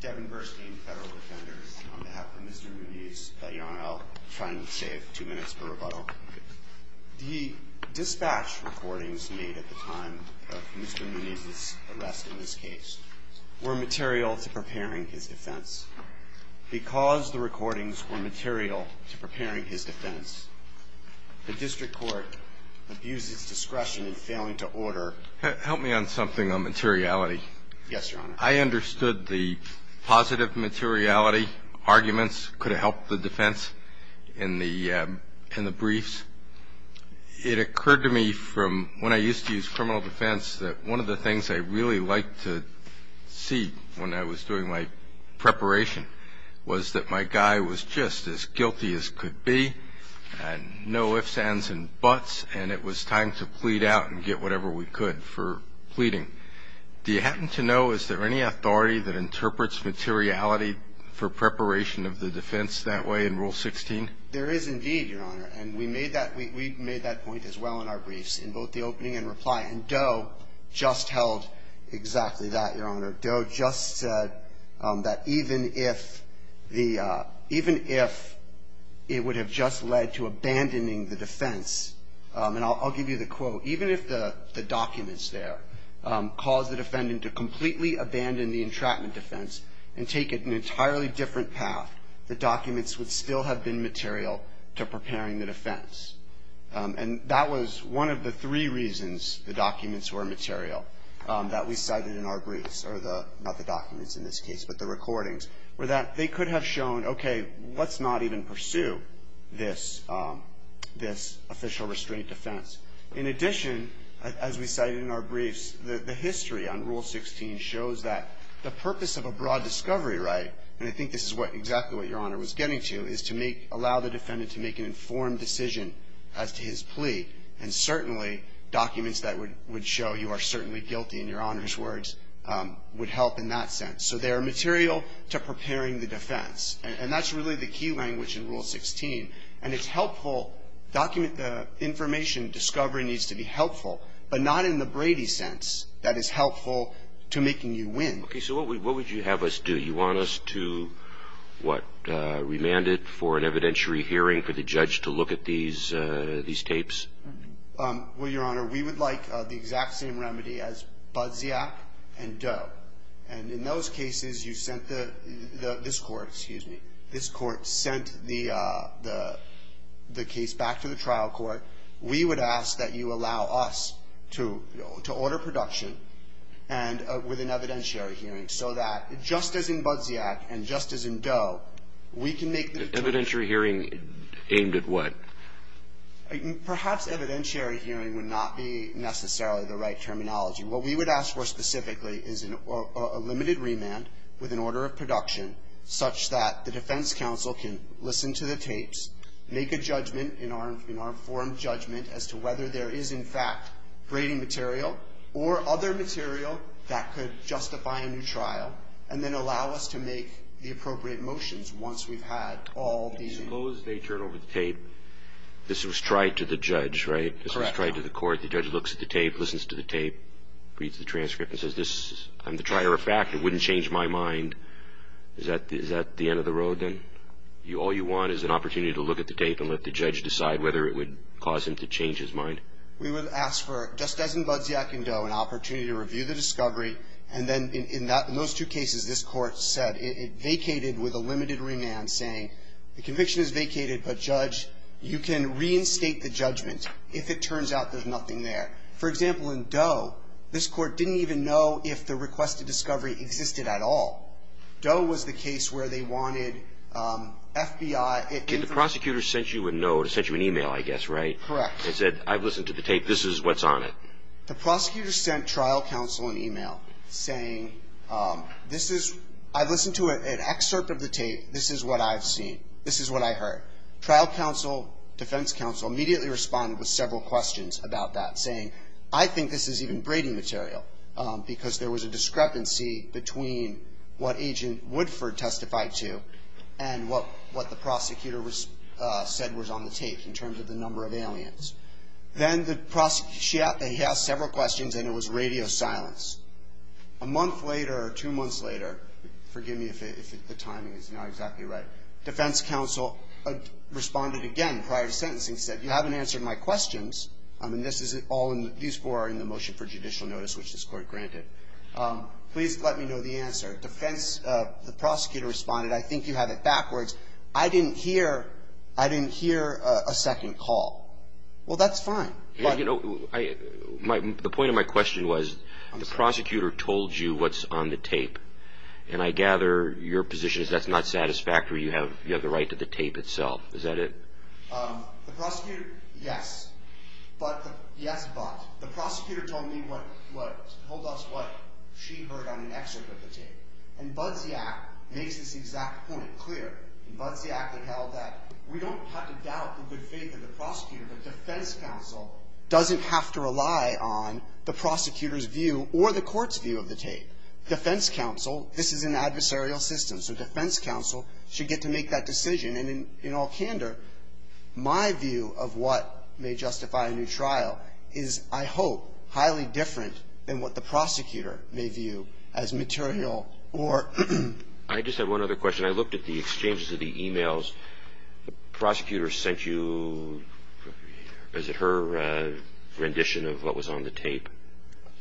Devin Burstein, Federal Defender, on behalf of Mr. Muniz. Your Honor, I'll try and save two minutes for rebuttal. The dispatch recordings made at the time of Mr. Muniz's arrest in this case were material to preparing his defense. Because the recordings were material to preparing his defense, the District Court abused its discretion in failing to order... Help me on something on materiality. Yes, Your Honor. I understood the positive materiality arguments could have helped the defense in the briefs. It occurred to me from when I used to use criminal defense that one of the things I really liked to see when I was doing my preparation was that my guy was just as guilty as could be and no ifs, ands, and buts, and it was time to plead out and get whatever we could for pleading. Do you happen to know, is there any authority that interprets materiality for preparation of the defense that way in Rule 16? There is indeed, Your Honor, and we made that point as well in our briefs, in both the opening and reply, and Doe just held exactly that, Your Honor. Doe just said that even if it would have just led to abandoning the defense, and I'll give you the quote, even if the documents there caused the defendant to completely abandon the entrapment defense and take an entirely different path, the documents would still have been material to preparing the defense, and that was one of the three reasons the documents were material that we cited in our briefs, or not the documents in this case, but the recordings, were that they could have shown, okay, let's not even pursue this official restraint defense. In addition, as we cited in our briefs, the history on Rule 16 shows that the purpose of a broad discovery right, and I think this is exactly what Your Honor was getting to, is to allow the defendant to make an informed decision as to his plea, and certainly documents that would show you are certainly guilty, in Your Honor's words, would help in that sense. So they are material to preparing the defense, and that's really the key language in Rule 16, and it's helpful, document the information discovery needs to be helpful, but not in the Brady sense that is helpful to making you win. Okay, so what would you have us do? You want us to, what, remand it for an evidentiary hearing for the judge to look at these tapes? Well, Your Honor, we would like the exact same remedy as Budziak and Doe, and in those cases you sent the, this court, excuse me, this court sent the case back to the trial court. We would ask that you allow us to order production and with an evidentiary hearing so that just as in Budziak and just as in Doe, we can make the decision. Evidentiary hearing aimed at what? Perhaps evidentiary hearing would not be necessarily the right terminology. What we would ask for specifically is a limited remand with an order of production such that the defense counsel can listen to the tapes, make a judgment in our informed judgment as to whether there is in fact Brady material or other material that could justify a new trial, and then allow us to make the appropriate motions once we've had all these. Suppose they turn over the tape. This was tried to the judge, right? Correct. This was tried to the court. The judge looks at the tape, listens to the tape, reads the transcript and says, I'm the trier of fact. It wouldn't change my mind. Is that the end of the road then? All you want is an opportunity to look at the tape and let the judge decide whether it would cause him to change his mind? We would ask for, just as in Budziak and Doe, an opportunity to review the discovery, and then in those two cases, this court said it vacated with a limited remand saying, the conviction is vacated, but, judge, you can reinstate the judgment if it turns out there's nothing there. For example, in Doe, this court didn't even know if the requested discovery existed at all. Doe was the case where they wanted FBI. The prosecutor sent you a note, sent you an email, I guess, right? Correct. It said, I've listened to the tape. This is what's on it. The prosecutor sent trial counsel an email saying, I've listened to an excerpt of the tape. This is what I've seen. This is what I heard. Trial counsel, defense counsel immediately responded with several questions about that, saying, I think this is even braiding material because there was a discrepancy between what Agent Woodford testified to and what the prosecutor said was on the tape in terms of the number of aliens. Then the prosecutor, he asked several questions, and it was radio silence. A month later or two months later, forgive me if the timing is not exactly right, defense counsel responded again prior to sentencing, said, you haven't answered my questions. I mean, these four are in the motion for judicial notice, which this court granted. Please let me know the answer. Defense, the prosecutor responded, I think you had it backwards. I didn't hear a second call. Well, that's fine. The point of my question was, the prosecutor told you what's on the tape, and I gather your position is that's not satisfactory. You have the right to the tape itself. Is that it? The prosecutor, yes. Yes, but. The prosecutor told us what she heard on an excerpt of the tape, and Budziak makes this exact point clear. In Budziak, they held that we don't have to doubt the good faith of the prosecutor, but defense counsel doesn't have to rely on the prosecutor's view or the court's view of the tape. Defense counsel, this is an adversarial system, so defense counsel should get to make that decision. And in all candor, my view of what may justify a new trial is, I hope, highly different than what the prosecutor may view as material or. I just have one other question. When I looked at the exchanges of the e-mails, the prosecutor sent you, is it her rendition of what was on the tape?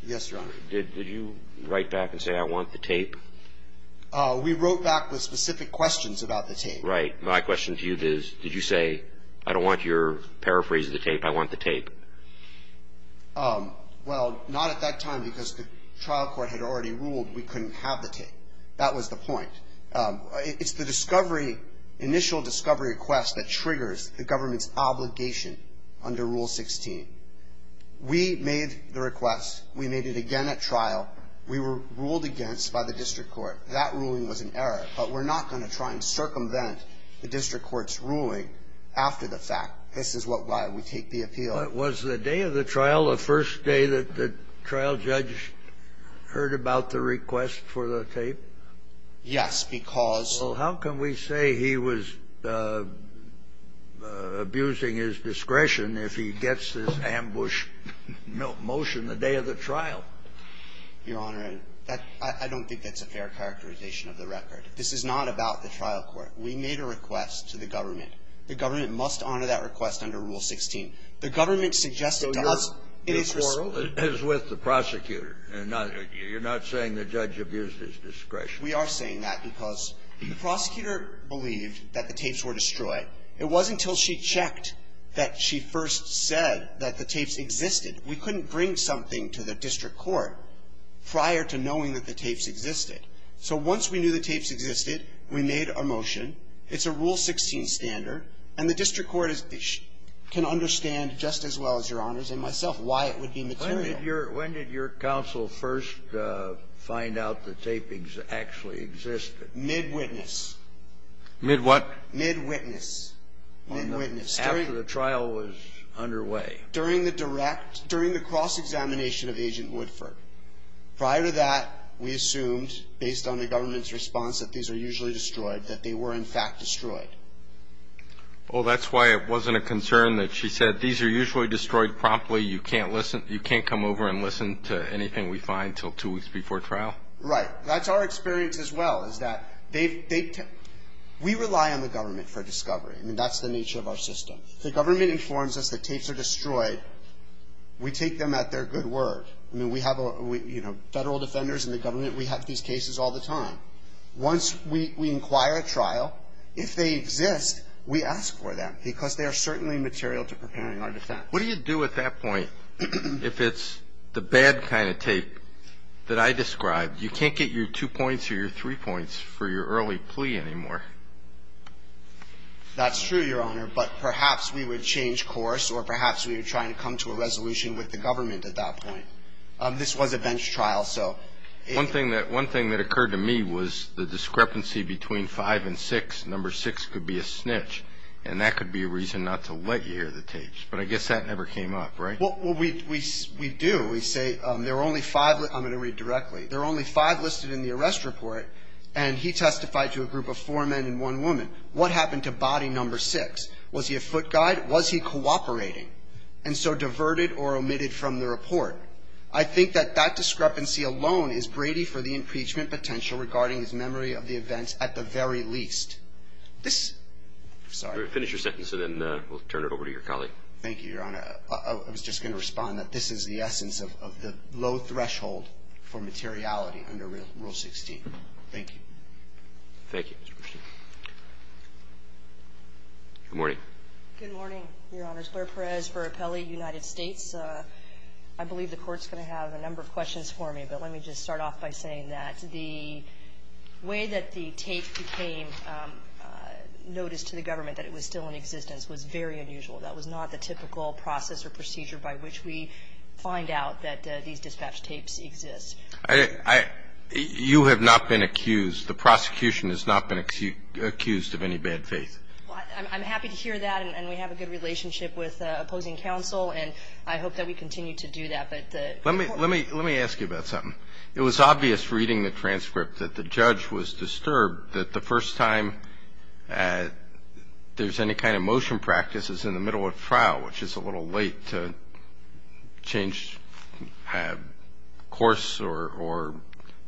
Yes, Your Honor. Did you write back and say, I want the tape? We wrote back with specific questions about the tape. Right. My question to you is, did you say, I don't want your paraphrase of the tape, I want the tape? Well, not at that time, because the trial court had already ruled we couldn't have the tape. That was the point. It's the discovery, initial discovery request that triggers the government's obligation under Rule 16. We made the request. We made it again at trial. We were ruled against by the district court. That ruling was an error. But we're not going to try and circumvent the district court's ruling after the fact. This is why we take the appeal. Was the day of the trial the first day that the trial judge heard about the request for the tape? Yes, because ---- Well, how can we say he was abusing his discretion if he gets this ambush motion the day of the trial? Your Honor, I don't think that's a fair characterization of the record. This is not about the trial court. We made a request to the government. The government must honor that request under Rule 16. The government suggested to us it is ---- So your quarrel is with the prosecutor and not you're not saying the judge abused his discretion. We are saying that because the prosecutor believed that the tapes were destroyed. It wasn't until she checked that she first said that the tapes existed. We couldn't bring something to the district court prior to knowing that the tapes existed. So once we knew the tapes existed, we made a motion. It's a Rule 16 standard. And the district court is ---- can understand just as well as Your Honors and myself why it would be material. When did your ---- when did your counsel first find out the tapings actually existed? Mid-witness. Mid-what? Mid-witness. Mid-witness. After the trial was underway. During the direct ---- during the cross-examination of Agent Woodford. Prior to that, we assumed, based on the government's response that these are usually destroyed, that they were in fact destroyed. Well, that's why it wasn't a concern that she said, these are usually destroyed promptly. You can't listen ---- you can't come over and listen to anything we find until two weeks before trial? Right. That's our experience as well, is that they've ---- we rely on the government for discovery. I mean, that's the nature of our system. If the government informs us that tapes are destroyed, we take them at their good word. I mean, we have a ---- you know, Federal Defenders and the government, we have these cases all the time. Once we inquire at trial, if they exist, we ask for them because they are certainly material to preparing our defense. What do you do at that point if it's the bad kind of tape that I described? You can't get your two points or your three points for your early plea anymore. That's true, Your Honor, but perhaps we would change course or perhaps we would try and come to a resolution with the government at that point. This was a bench trial, so if ---- One thing that occurred to me was the discrepancy between five and six. Number six could be a snitch, and that could be a reason not to let you hear the tapes. But I guess that never came up, right? Well, we do. We say there are only five ---- I'm going to read directly. There are only five listed in the arrest report, and he testified to a group of four men and one woman. What happened to body number six? Was he a foot guide? Was he cooperating? And so diverted or omitted from the report. I think that that discrepancy alone is Brady for the impeachment potential regarding his memory of the events at the very least. This ---- Finish your sentence, and then we'll turn it over to your colleague. Thank you, Your Honor. I was just going to respond that this is the essence of the low threshold for materiality under Rule 16. Thank you. Thank you. Good morning. Good morning, Your Honor. My name is Claire Perez for Appelli United States. I believe the Court's going to have a number of questions for me, but let me just start off by saying that the way that the tape became noticed to the government that it was still in existence was very unusual. That was not the typical process or procedure by which we find out that these dispatch tapes exist. I ---- you have not been accused. The prosecution has not been accused of any bad faith. Well, I'm happy to hear that, and we have a good relationship with opposing counsel, and I hope that we continue to do that. But the ---- Let me ask you about something. It was obvious reading the transcript that the judge was disturbed that the first time there's any kind of motion practice is in the middle of trial, which is a little late to change course or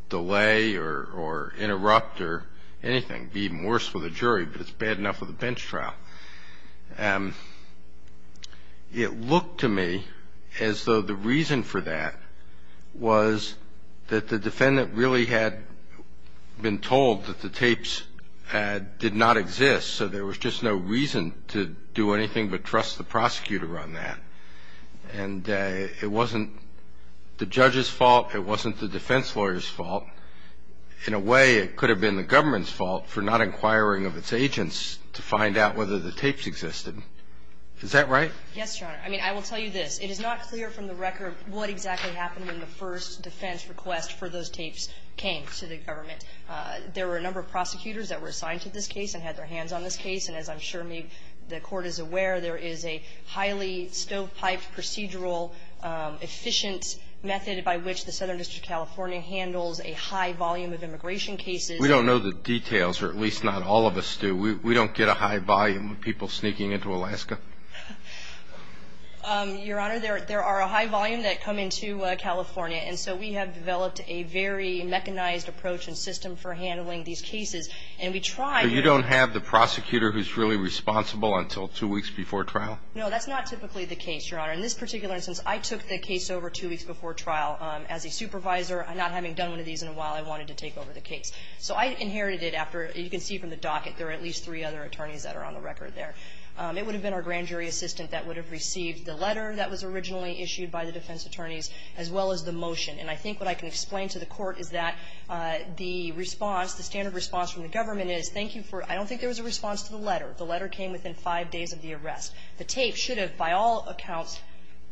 delay or interrupt or anything. It can be even worse with a jury, but it's bad enough with a bench trial. It looked to me as though the reason for that was that the defendant really had been told that the tapes did not exist, so there was just no reason to do anything but trust the prosecutor on that. And it wasn't the judge's fault. It wasn't the defense lawyer's fault. In a way, it could have been the government's fault for not inquiring of its agents to find out whether the tapes existed. Is that right? Yes, Your Honor. I mean, I will tell you this. It is not clear from the record what exactly happened when the first defense request for those tapes came to the government. There were a number of prosecutors that were assigned to this case and had their hands on this case, and as I'm sure the Court is aware, there is a highly stovepiped, procedural, efficient method by which the Southern District of California handles a high volume of immigration cases. We don't know the details, or at least not all of us do. We don't get a high volume of people sneaking into Alaska. Your Honor, there are a high volume that come into California, and so we have developed a very mechanized approach and system for handling these cases. And we try to do that. So you don't have the prosecutor who's really responsible until two weeks before trial? No, that's not typically the case, Your Honor. In this particular instance, I took the case over two weeks before trial. As a supervisor, not having done one of these in a while, I wanted to take over the case. So I inherited it after, you can see from the docket, there are at least three other attorneys that are on the record there. It would have been our grand jury assistant that would have received the letter that was originally issued by the defense attorneys, as well as the motion. And I think what I can explain to the Court is that the response, the standard response from the government is, thank you for, I don't think there was a response to the letter. The letter came within five days of the arrest. The tape should have, by all accounts,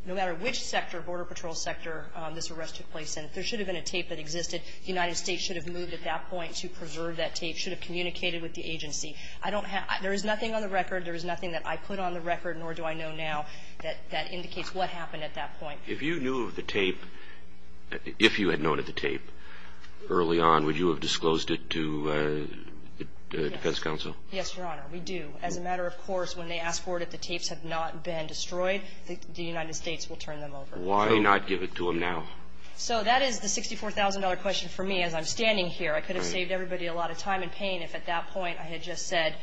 no matter which sector, Border Patrol sector, this arrest took place in, there should have been a tape that existed. The United States should have moved at that point to preserve that tape, should have communicated with the agency. I don't have, there is nothing on the record, there is nothing that I put on the record, nor do I know now, that indicates what happened at that point. If you knew of the tape, if you had noted the tape early on, would you have disclosed it to the defense counsel? Yes, Your Honor. We do. As a matter of course, when they ask for it, if the tapes have not been destroyed, the United States will turn them over. Why not give it to them now? So that is the $64,000 question for me as I'm standing here. I could have saved everybody a lot of time and pain if at that point I had just said,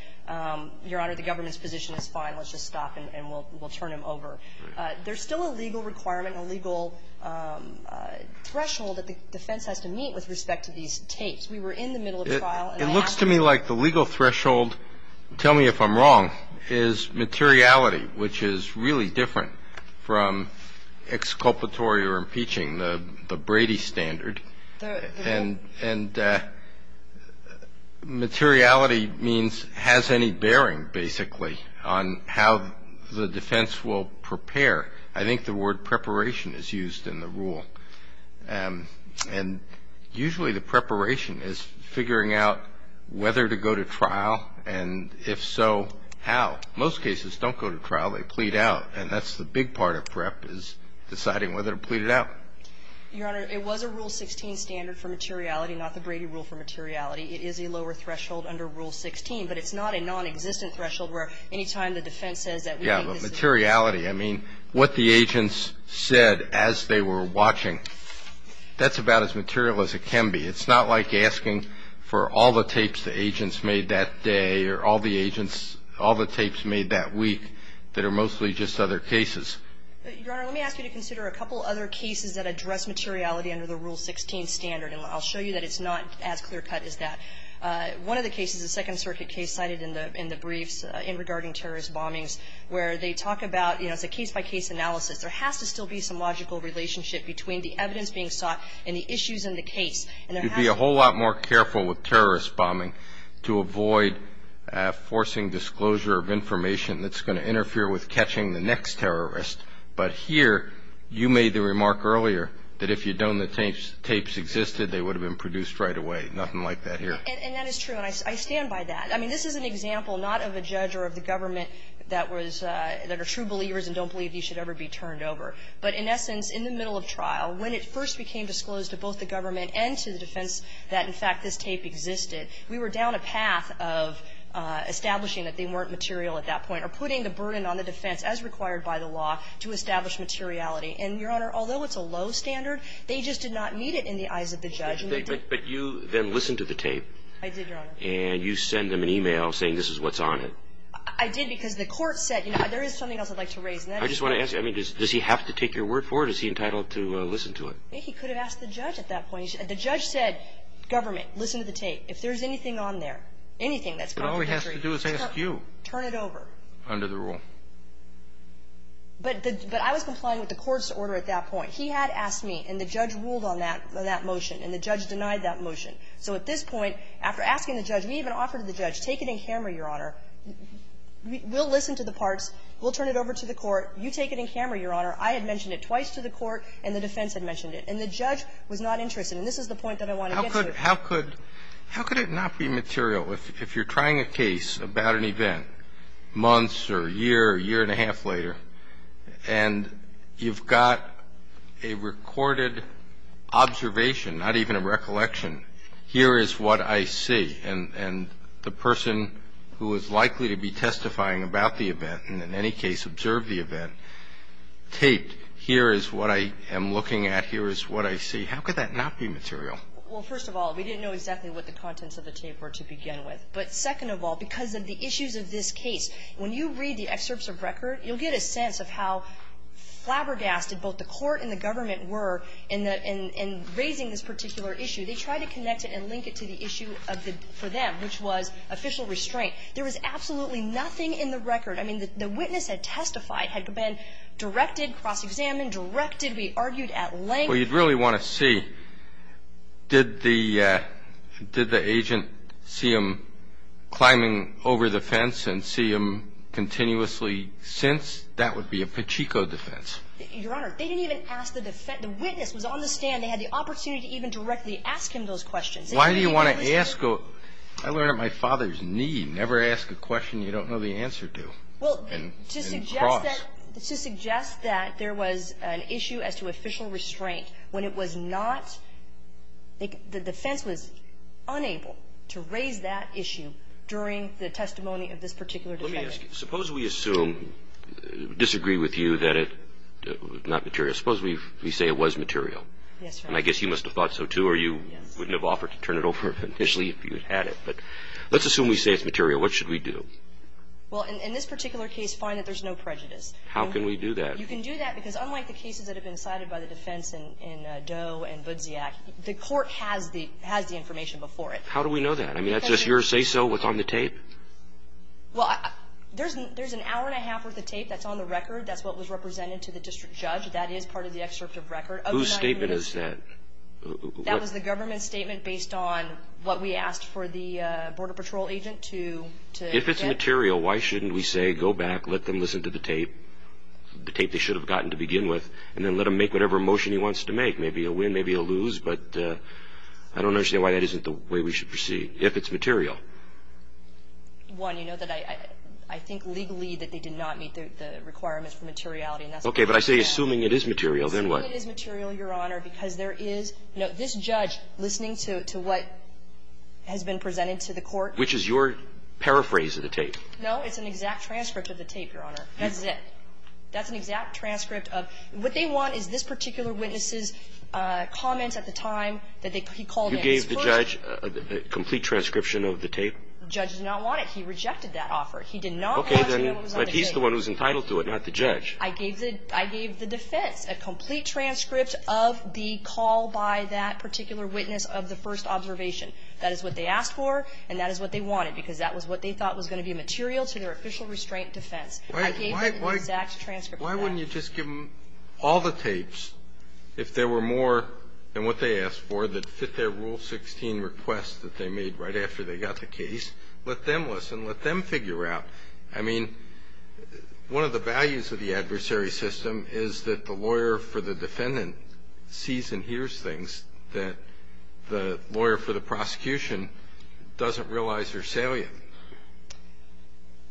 Your Honor, the government's position is fine. Let's just stop and we'll turn them over. There's still a legal requirement, a legal threshold that the defense has to meet with respect to these tapes. We were in the middle of a trial. It looks to me like the legal threshold, tell me if I'm wrong, is materiality, which is really different from exculpatory or impeaching, the Brady standard. And materiality means has any bearing, basically, on how the defense will prepare. I think the word preparation is used in the rule. And usually the preparation is figuring out whether to go to trial, and if so, how. Most cases don't go to trial. They plead out. And that's the big part of prep is deciding whether to plead it out. Your Honor, it was a Rule 16 standard for materiality, not the Brady rule for materiality. It is a lower threshold under Rule 16, but it's not a nonexistent threshold where any time the defense says that we think this is materiality. I mean, what the agents said as they were watching, that's about as material as it can be. It's not like asking for all the tapes the agents made that day or all the agents, all the tapes made that week that are mostly just other cases. Your Honor, let me ask you to consider a couple other cases that address materiality under the Rule 16 standard. And I'll show you that it's not as clear-cut as that. One of the cases, a Second Circuit case cited in the briefs regarding terrorist bombings where they talk about, you know, it's a case-by-case analysis. There has to still be some logical relationship between the evidence being sought and the issues in the case. And there has to be a whole lot more careful with terrorist bombing to avoid forcing disclosure of information that's going to interfere with catching the next terrorist. But here, you made the remark earlier that if you'd known the tapes existed, they would have been produced right away. Nothing like that here. And that is true. And I stand by that. I mean, this is an example not of a judge or of the government that was, that are true believers and don't believe these should ever be turned over. But in essence, in the middle of trial, when it first became disclosed to both the government and to the defense that, in fact, this tape existed, we were down a path of establishing that they weren't material at that point or putting the burden on the defense, as required by the law, to establish materiality. And, Your Honor, although it's a low standard, they just did not need it in the eyes of the judge. But you then listened to the tape. I did, Your Honor. And you send them an e-mail saying this is what's on it. I did because the court said, you know, there is something else I'd like to raise. I just want to ask you, I mean, does he have to take your word for it? Is he entitled to listen to it? He could have asked the judge at that point. The judge said, government, listen to the tape. If there's anything on there, anything that's contradictory. All he has to do is ask you. Turn it over. Under the rule. But I was complying with the court's order at that point. He had asked me, and the judge ruled on that motion, and the judge denied that motion. So at this point, after asking the judge, we even offered to the judge, take it in camera, Your Honor. We'll listen to the parts. We'll turn it over to the court. You take it in camera, Your Honor. I had mentioned it twice to the court, and the defense had mentioned it. And the judge was not interested. And this is the point that I want to get to. How could it not be material? If you're trying a case about an event months or a year, year and a half later, and you've got a recorded observation, not even a recollection, here is what I see. And the person who is likely to be testifying about the event, and in any case observe the event, taped, here is what I am looking at, here is what I see. How could that not be material? Well, first of all, we didn't know exactly what the contents of the tape were to begin with. But second of all, because of the issues of this case, when you read the excerpts of record, you'll get a sense of how flabbergasted both the court and the government were in raising this particular issue. They tried to connect it and link it to the issue for them, which was official restraint. There was absolutely nothing in the record. I mean, the witness had testified, had been directed, cross-examined, directed, we argued at length. Well, you'd really want to see, did the agent see him climbing over the fence and see him continuously since? That would be a pachinko defense. Your Honor, they didn't even ask the defense. The witness was on the stand. They had the opportunity to even directly ask him those questions. Why do you want to ask a question? I learned it at my father's knee. Never ask a question you don't know the answer to and cross. Well, to suggest that there was an issue as to official restraint when it was not the defense was unable to raise that issue during the testimony of this particular defendant. Let me ask you, suppose we assume, disagree with you that it was not material. Suppose we say it was material. Yes, Your Honor. And I guess you must have thought so, too, or you wouldn't have offered to turn it over initially if you had it. But let's assume we say it's material. What should we do? Well, in this particular case, find that there's no prejudice. How can we do that? You can do that because unlike the cases that have been cited by the defense in Doe and Budziak, the court has the information before it. How do we know that? I mean, that's just your say-so? What's on the tape? Well, there's an hour and a half worth of tape that's on the record. That's what was represented to the district judge. That is part of the excerpt of record. Whose statement is that? That was the government statement based on what we asked for the Border Patrol agent to get. If it's material, why shouldn't we say, go back, let them listen to the tape, the tape they should have gotten to begin with, and then let them make whatever motion he wants to make? Maybe he'll win, maybe he'll lose. But I don't understand why that isn't the way we should proceed if it's material. One, you know that I think legally that they did not meet the requirements for materiality. Okay. But I say assuming it is material, then what? Assuming it is material, Your Honor, because there is no – this judge listening to what has been presented to the court – Which is your paraphrase of the tape. No. It's an exact transcript of the tape, Your Honor. That's it. That's an exact transcript of – what they want is this particular witness's comments at the time that he called in. You gave the judge a complete transcription of the tape? The judge did not want it. He rejected that offer. He did not want to know what was on the tape. Okay. But he's the one who's entitled to it, not the judge. I gave the defense a complete transcript of the call by that particular witness of the first observation. That is what they asked for, and that is what they wanted, because that was what they thought was going to be material to their official restraint defense. I gave them an exact transcript of that. Why wouldn't you just give them all the tapes, if there were more than what they asked for, that fit their Rule 16 request that they made right after they got the case? Let them listen. Let them figure out. I mean, one of the values of the adversary system is that the lawyer for the defendant sees and hears things that the lawyer for the prosecution doesn't realize are salient.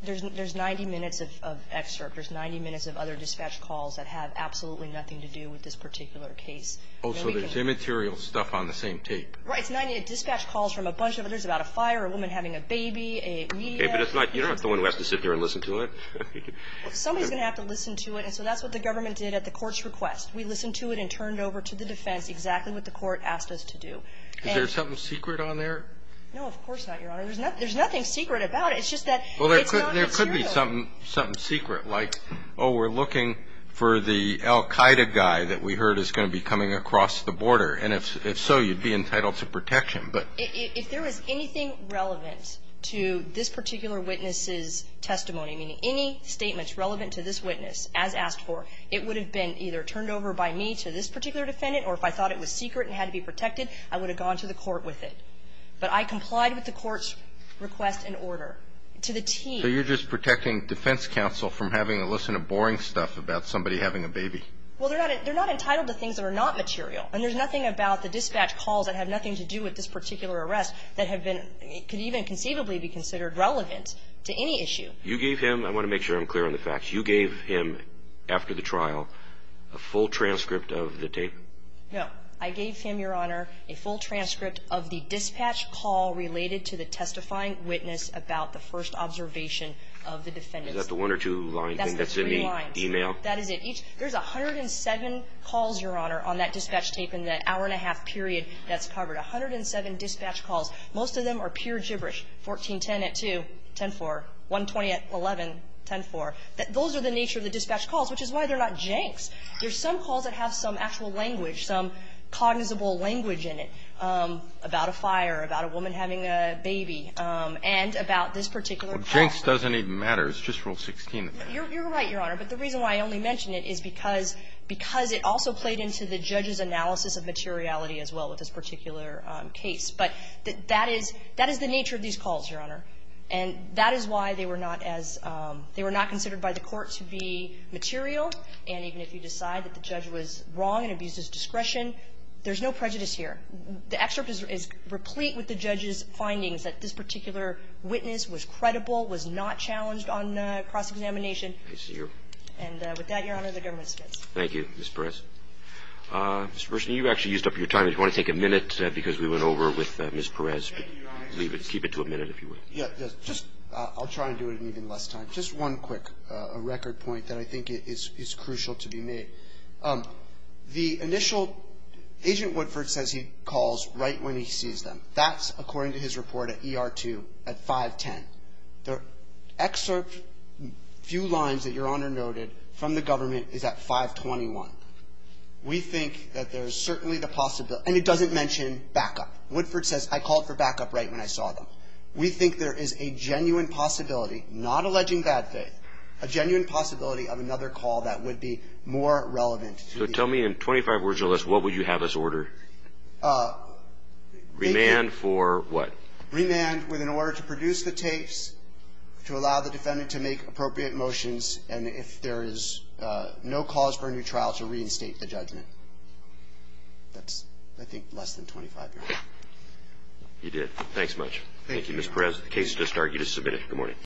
There's 90 minutes of excerpt. There's 90 minutes of other dispatch calls that have absolutely nothing to do with this particular case. Oh, so there's immaterial stuff on the same tape. Right. It's 90 dispatch calls from a bunch of others about a fire, a woman having a baby, a media. Okay. But it's not you're not the one who has to sit here and listen to it. Somebody's going to have to listen to it, and so that's what the government did at the court's request. We listened to it and turned over to the defense exactly what the court asked us to Is there something secret on there? No, of course not, Your Honor. There's nothing secret about it. It's just that it's not material. Well, there could be something secret, like, oh, we're looking for the al Qaeda guy that we heard is going to be coming across the border. And if so, you'd be entitled to protection. But if there was anything relevant to this particular witness's testimony, meaning any statements relevant to this witness as asked for, it would have been either turned over by me to this particular defendant, or if I thought it was secret and had to be protected, I would have gone to the court with it. But I complied with the court's request and order to the T. So you're just protecting defense counsel from having to listen to boring stuff about somebody having a baby? Well, they're not entitled to things that are not material. And there's nothing about the dispatch calls that have nothing to do with this particular arrest that could even conceivably be considered relevant to any issue. You gave him – I want to make sure I'm clear on the facts. You gave him, after the trial, a full transcript of the tape? No. I gave him, Your Honor, a full transcript of the dispatch call related to the testifying witness about the first observation of the defendant. Is that the one or two line thing that's in the email? That's the three lines. That is it. There's 107 calls, Your Honor, on that dispatch tape in the hour-and-a-half period that's covered. 107 dispatch calls. Most of them are pure gibberish. 1410 at 2, 10-4. 120 at 11, 10-4. Those are the nature of the dispatch calls, which is why they're not janks. There's some calls that have some actual language, some cognizable language in it about a fire, about a woman having a baby, and about this particular call. Well, janks doesn't even matter. It's just Rule 16. You're right, Your Honor. But the reason why I only mention it is because it also played into the judge's analysis of materiality as well with this particular case. But that is the nature of these calls, Your Honor. And that is why they were not as – they were not considered by the Court to be material. And even if you decide that the judge was wrong and abused his discretion, there's no prejudice here. The excerpt is replete with the judge's findings that this particular witness was credible, was not challenged on cross-examination. I see you. And with that, Your Honor, the government submits. Thank you, Ms. Perez. Mr. Bershnev, you actually used up your time. If you want to take a minute, because we went over with Ms. Perez. Keep it to a minute, if you would. Yes. I'll try and do it in even less time. Just one quick record point that I think is crucial to be made. The initial – Agent Woodford says he calls right when he sees them. That's according to his report at ER2 at 510. The excerpt few lines that Your Honor noted from the government is at 521. We think that there's certainly the possibility – and it doesn't mention backup. Woodford says, I called for backup right when I saw them. We think there is a genuine possibility, not alleging bad faith, a genuine possibility of another call that would be more relevant. So tell me in 25 words or less, what would you have us order? Remand for what? Remand with an order to produce the tapes, to allow the defendant to make appropriate motions, and if there is no cause for a new trial, to reinstate the judgment. That's, I think, less than 25, Your Honor. You did. Thanks much. Thank you, Mr. Perez. The case has just started. You just submitted it.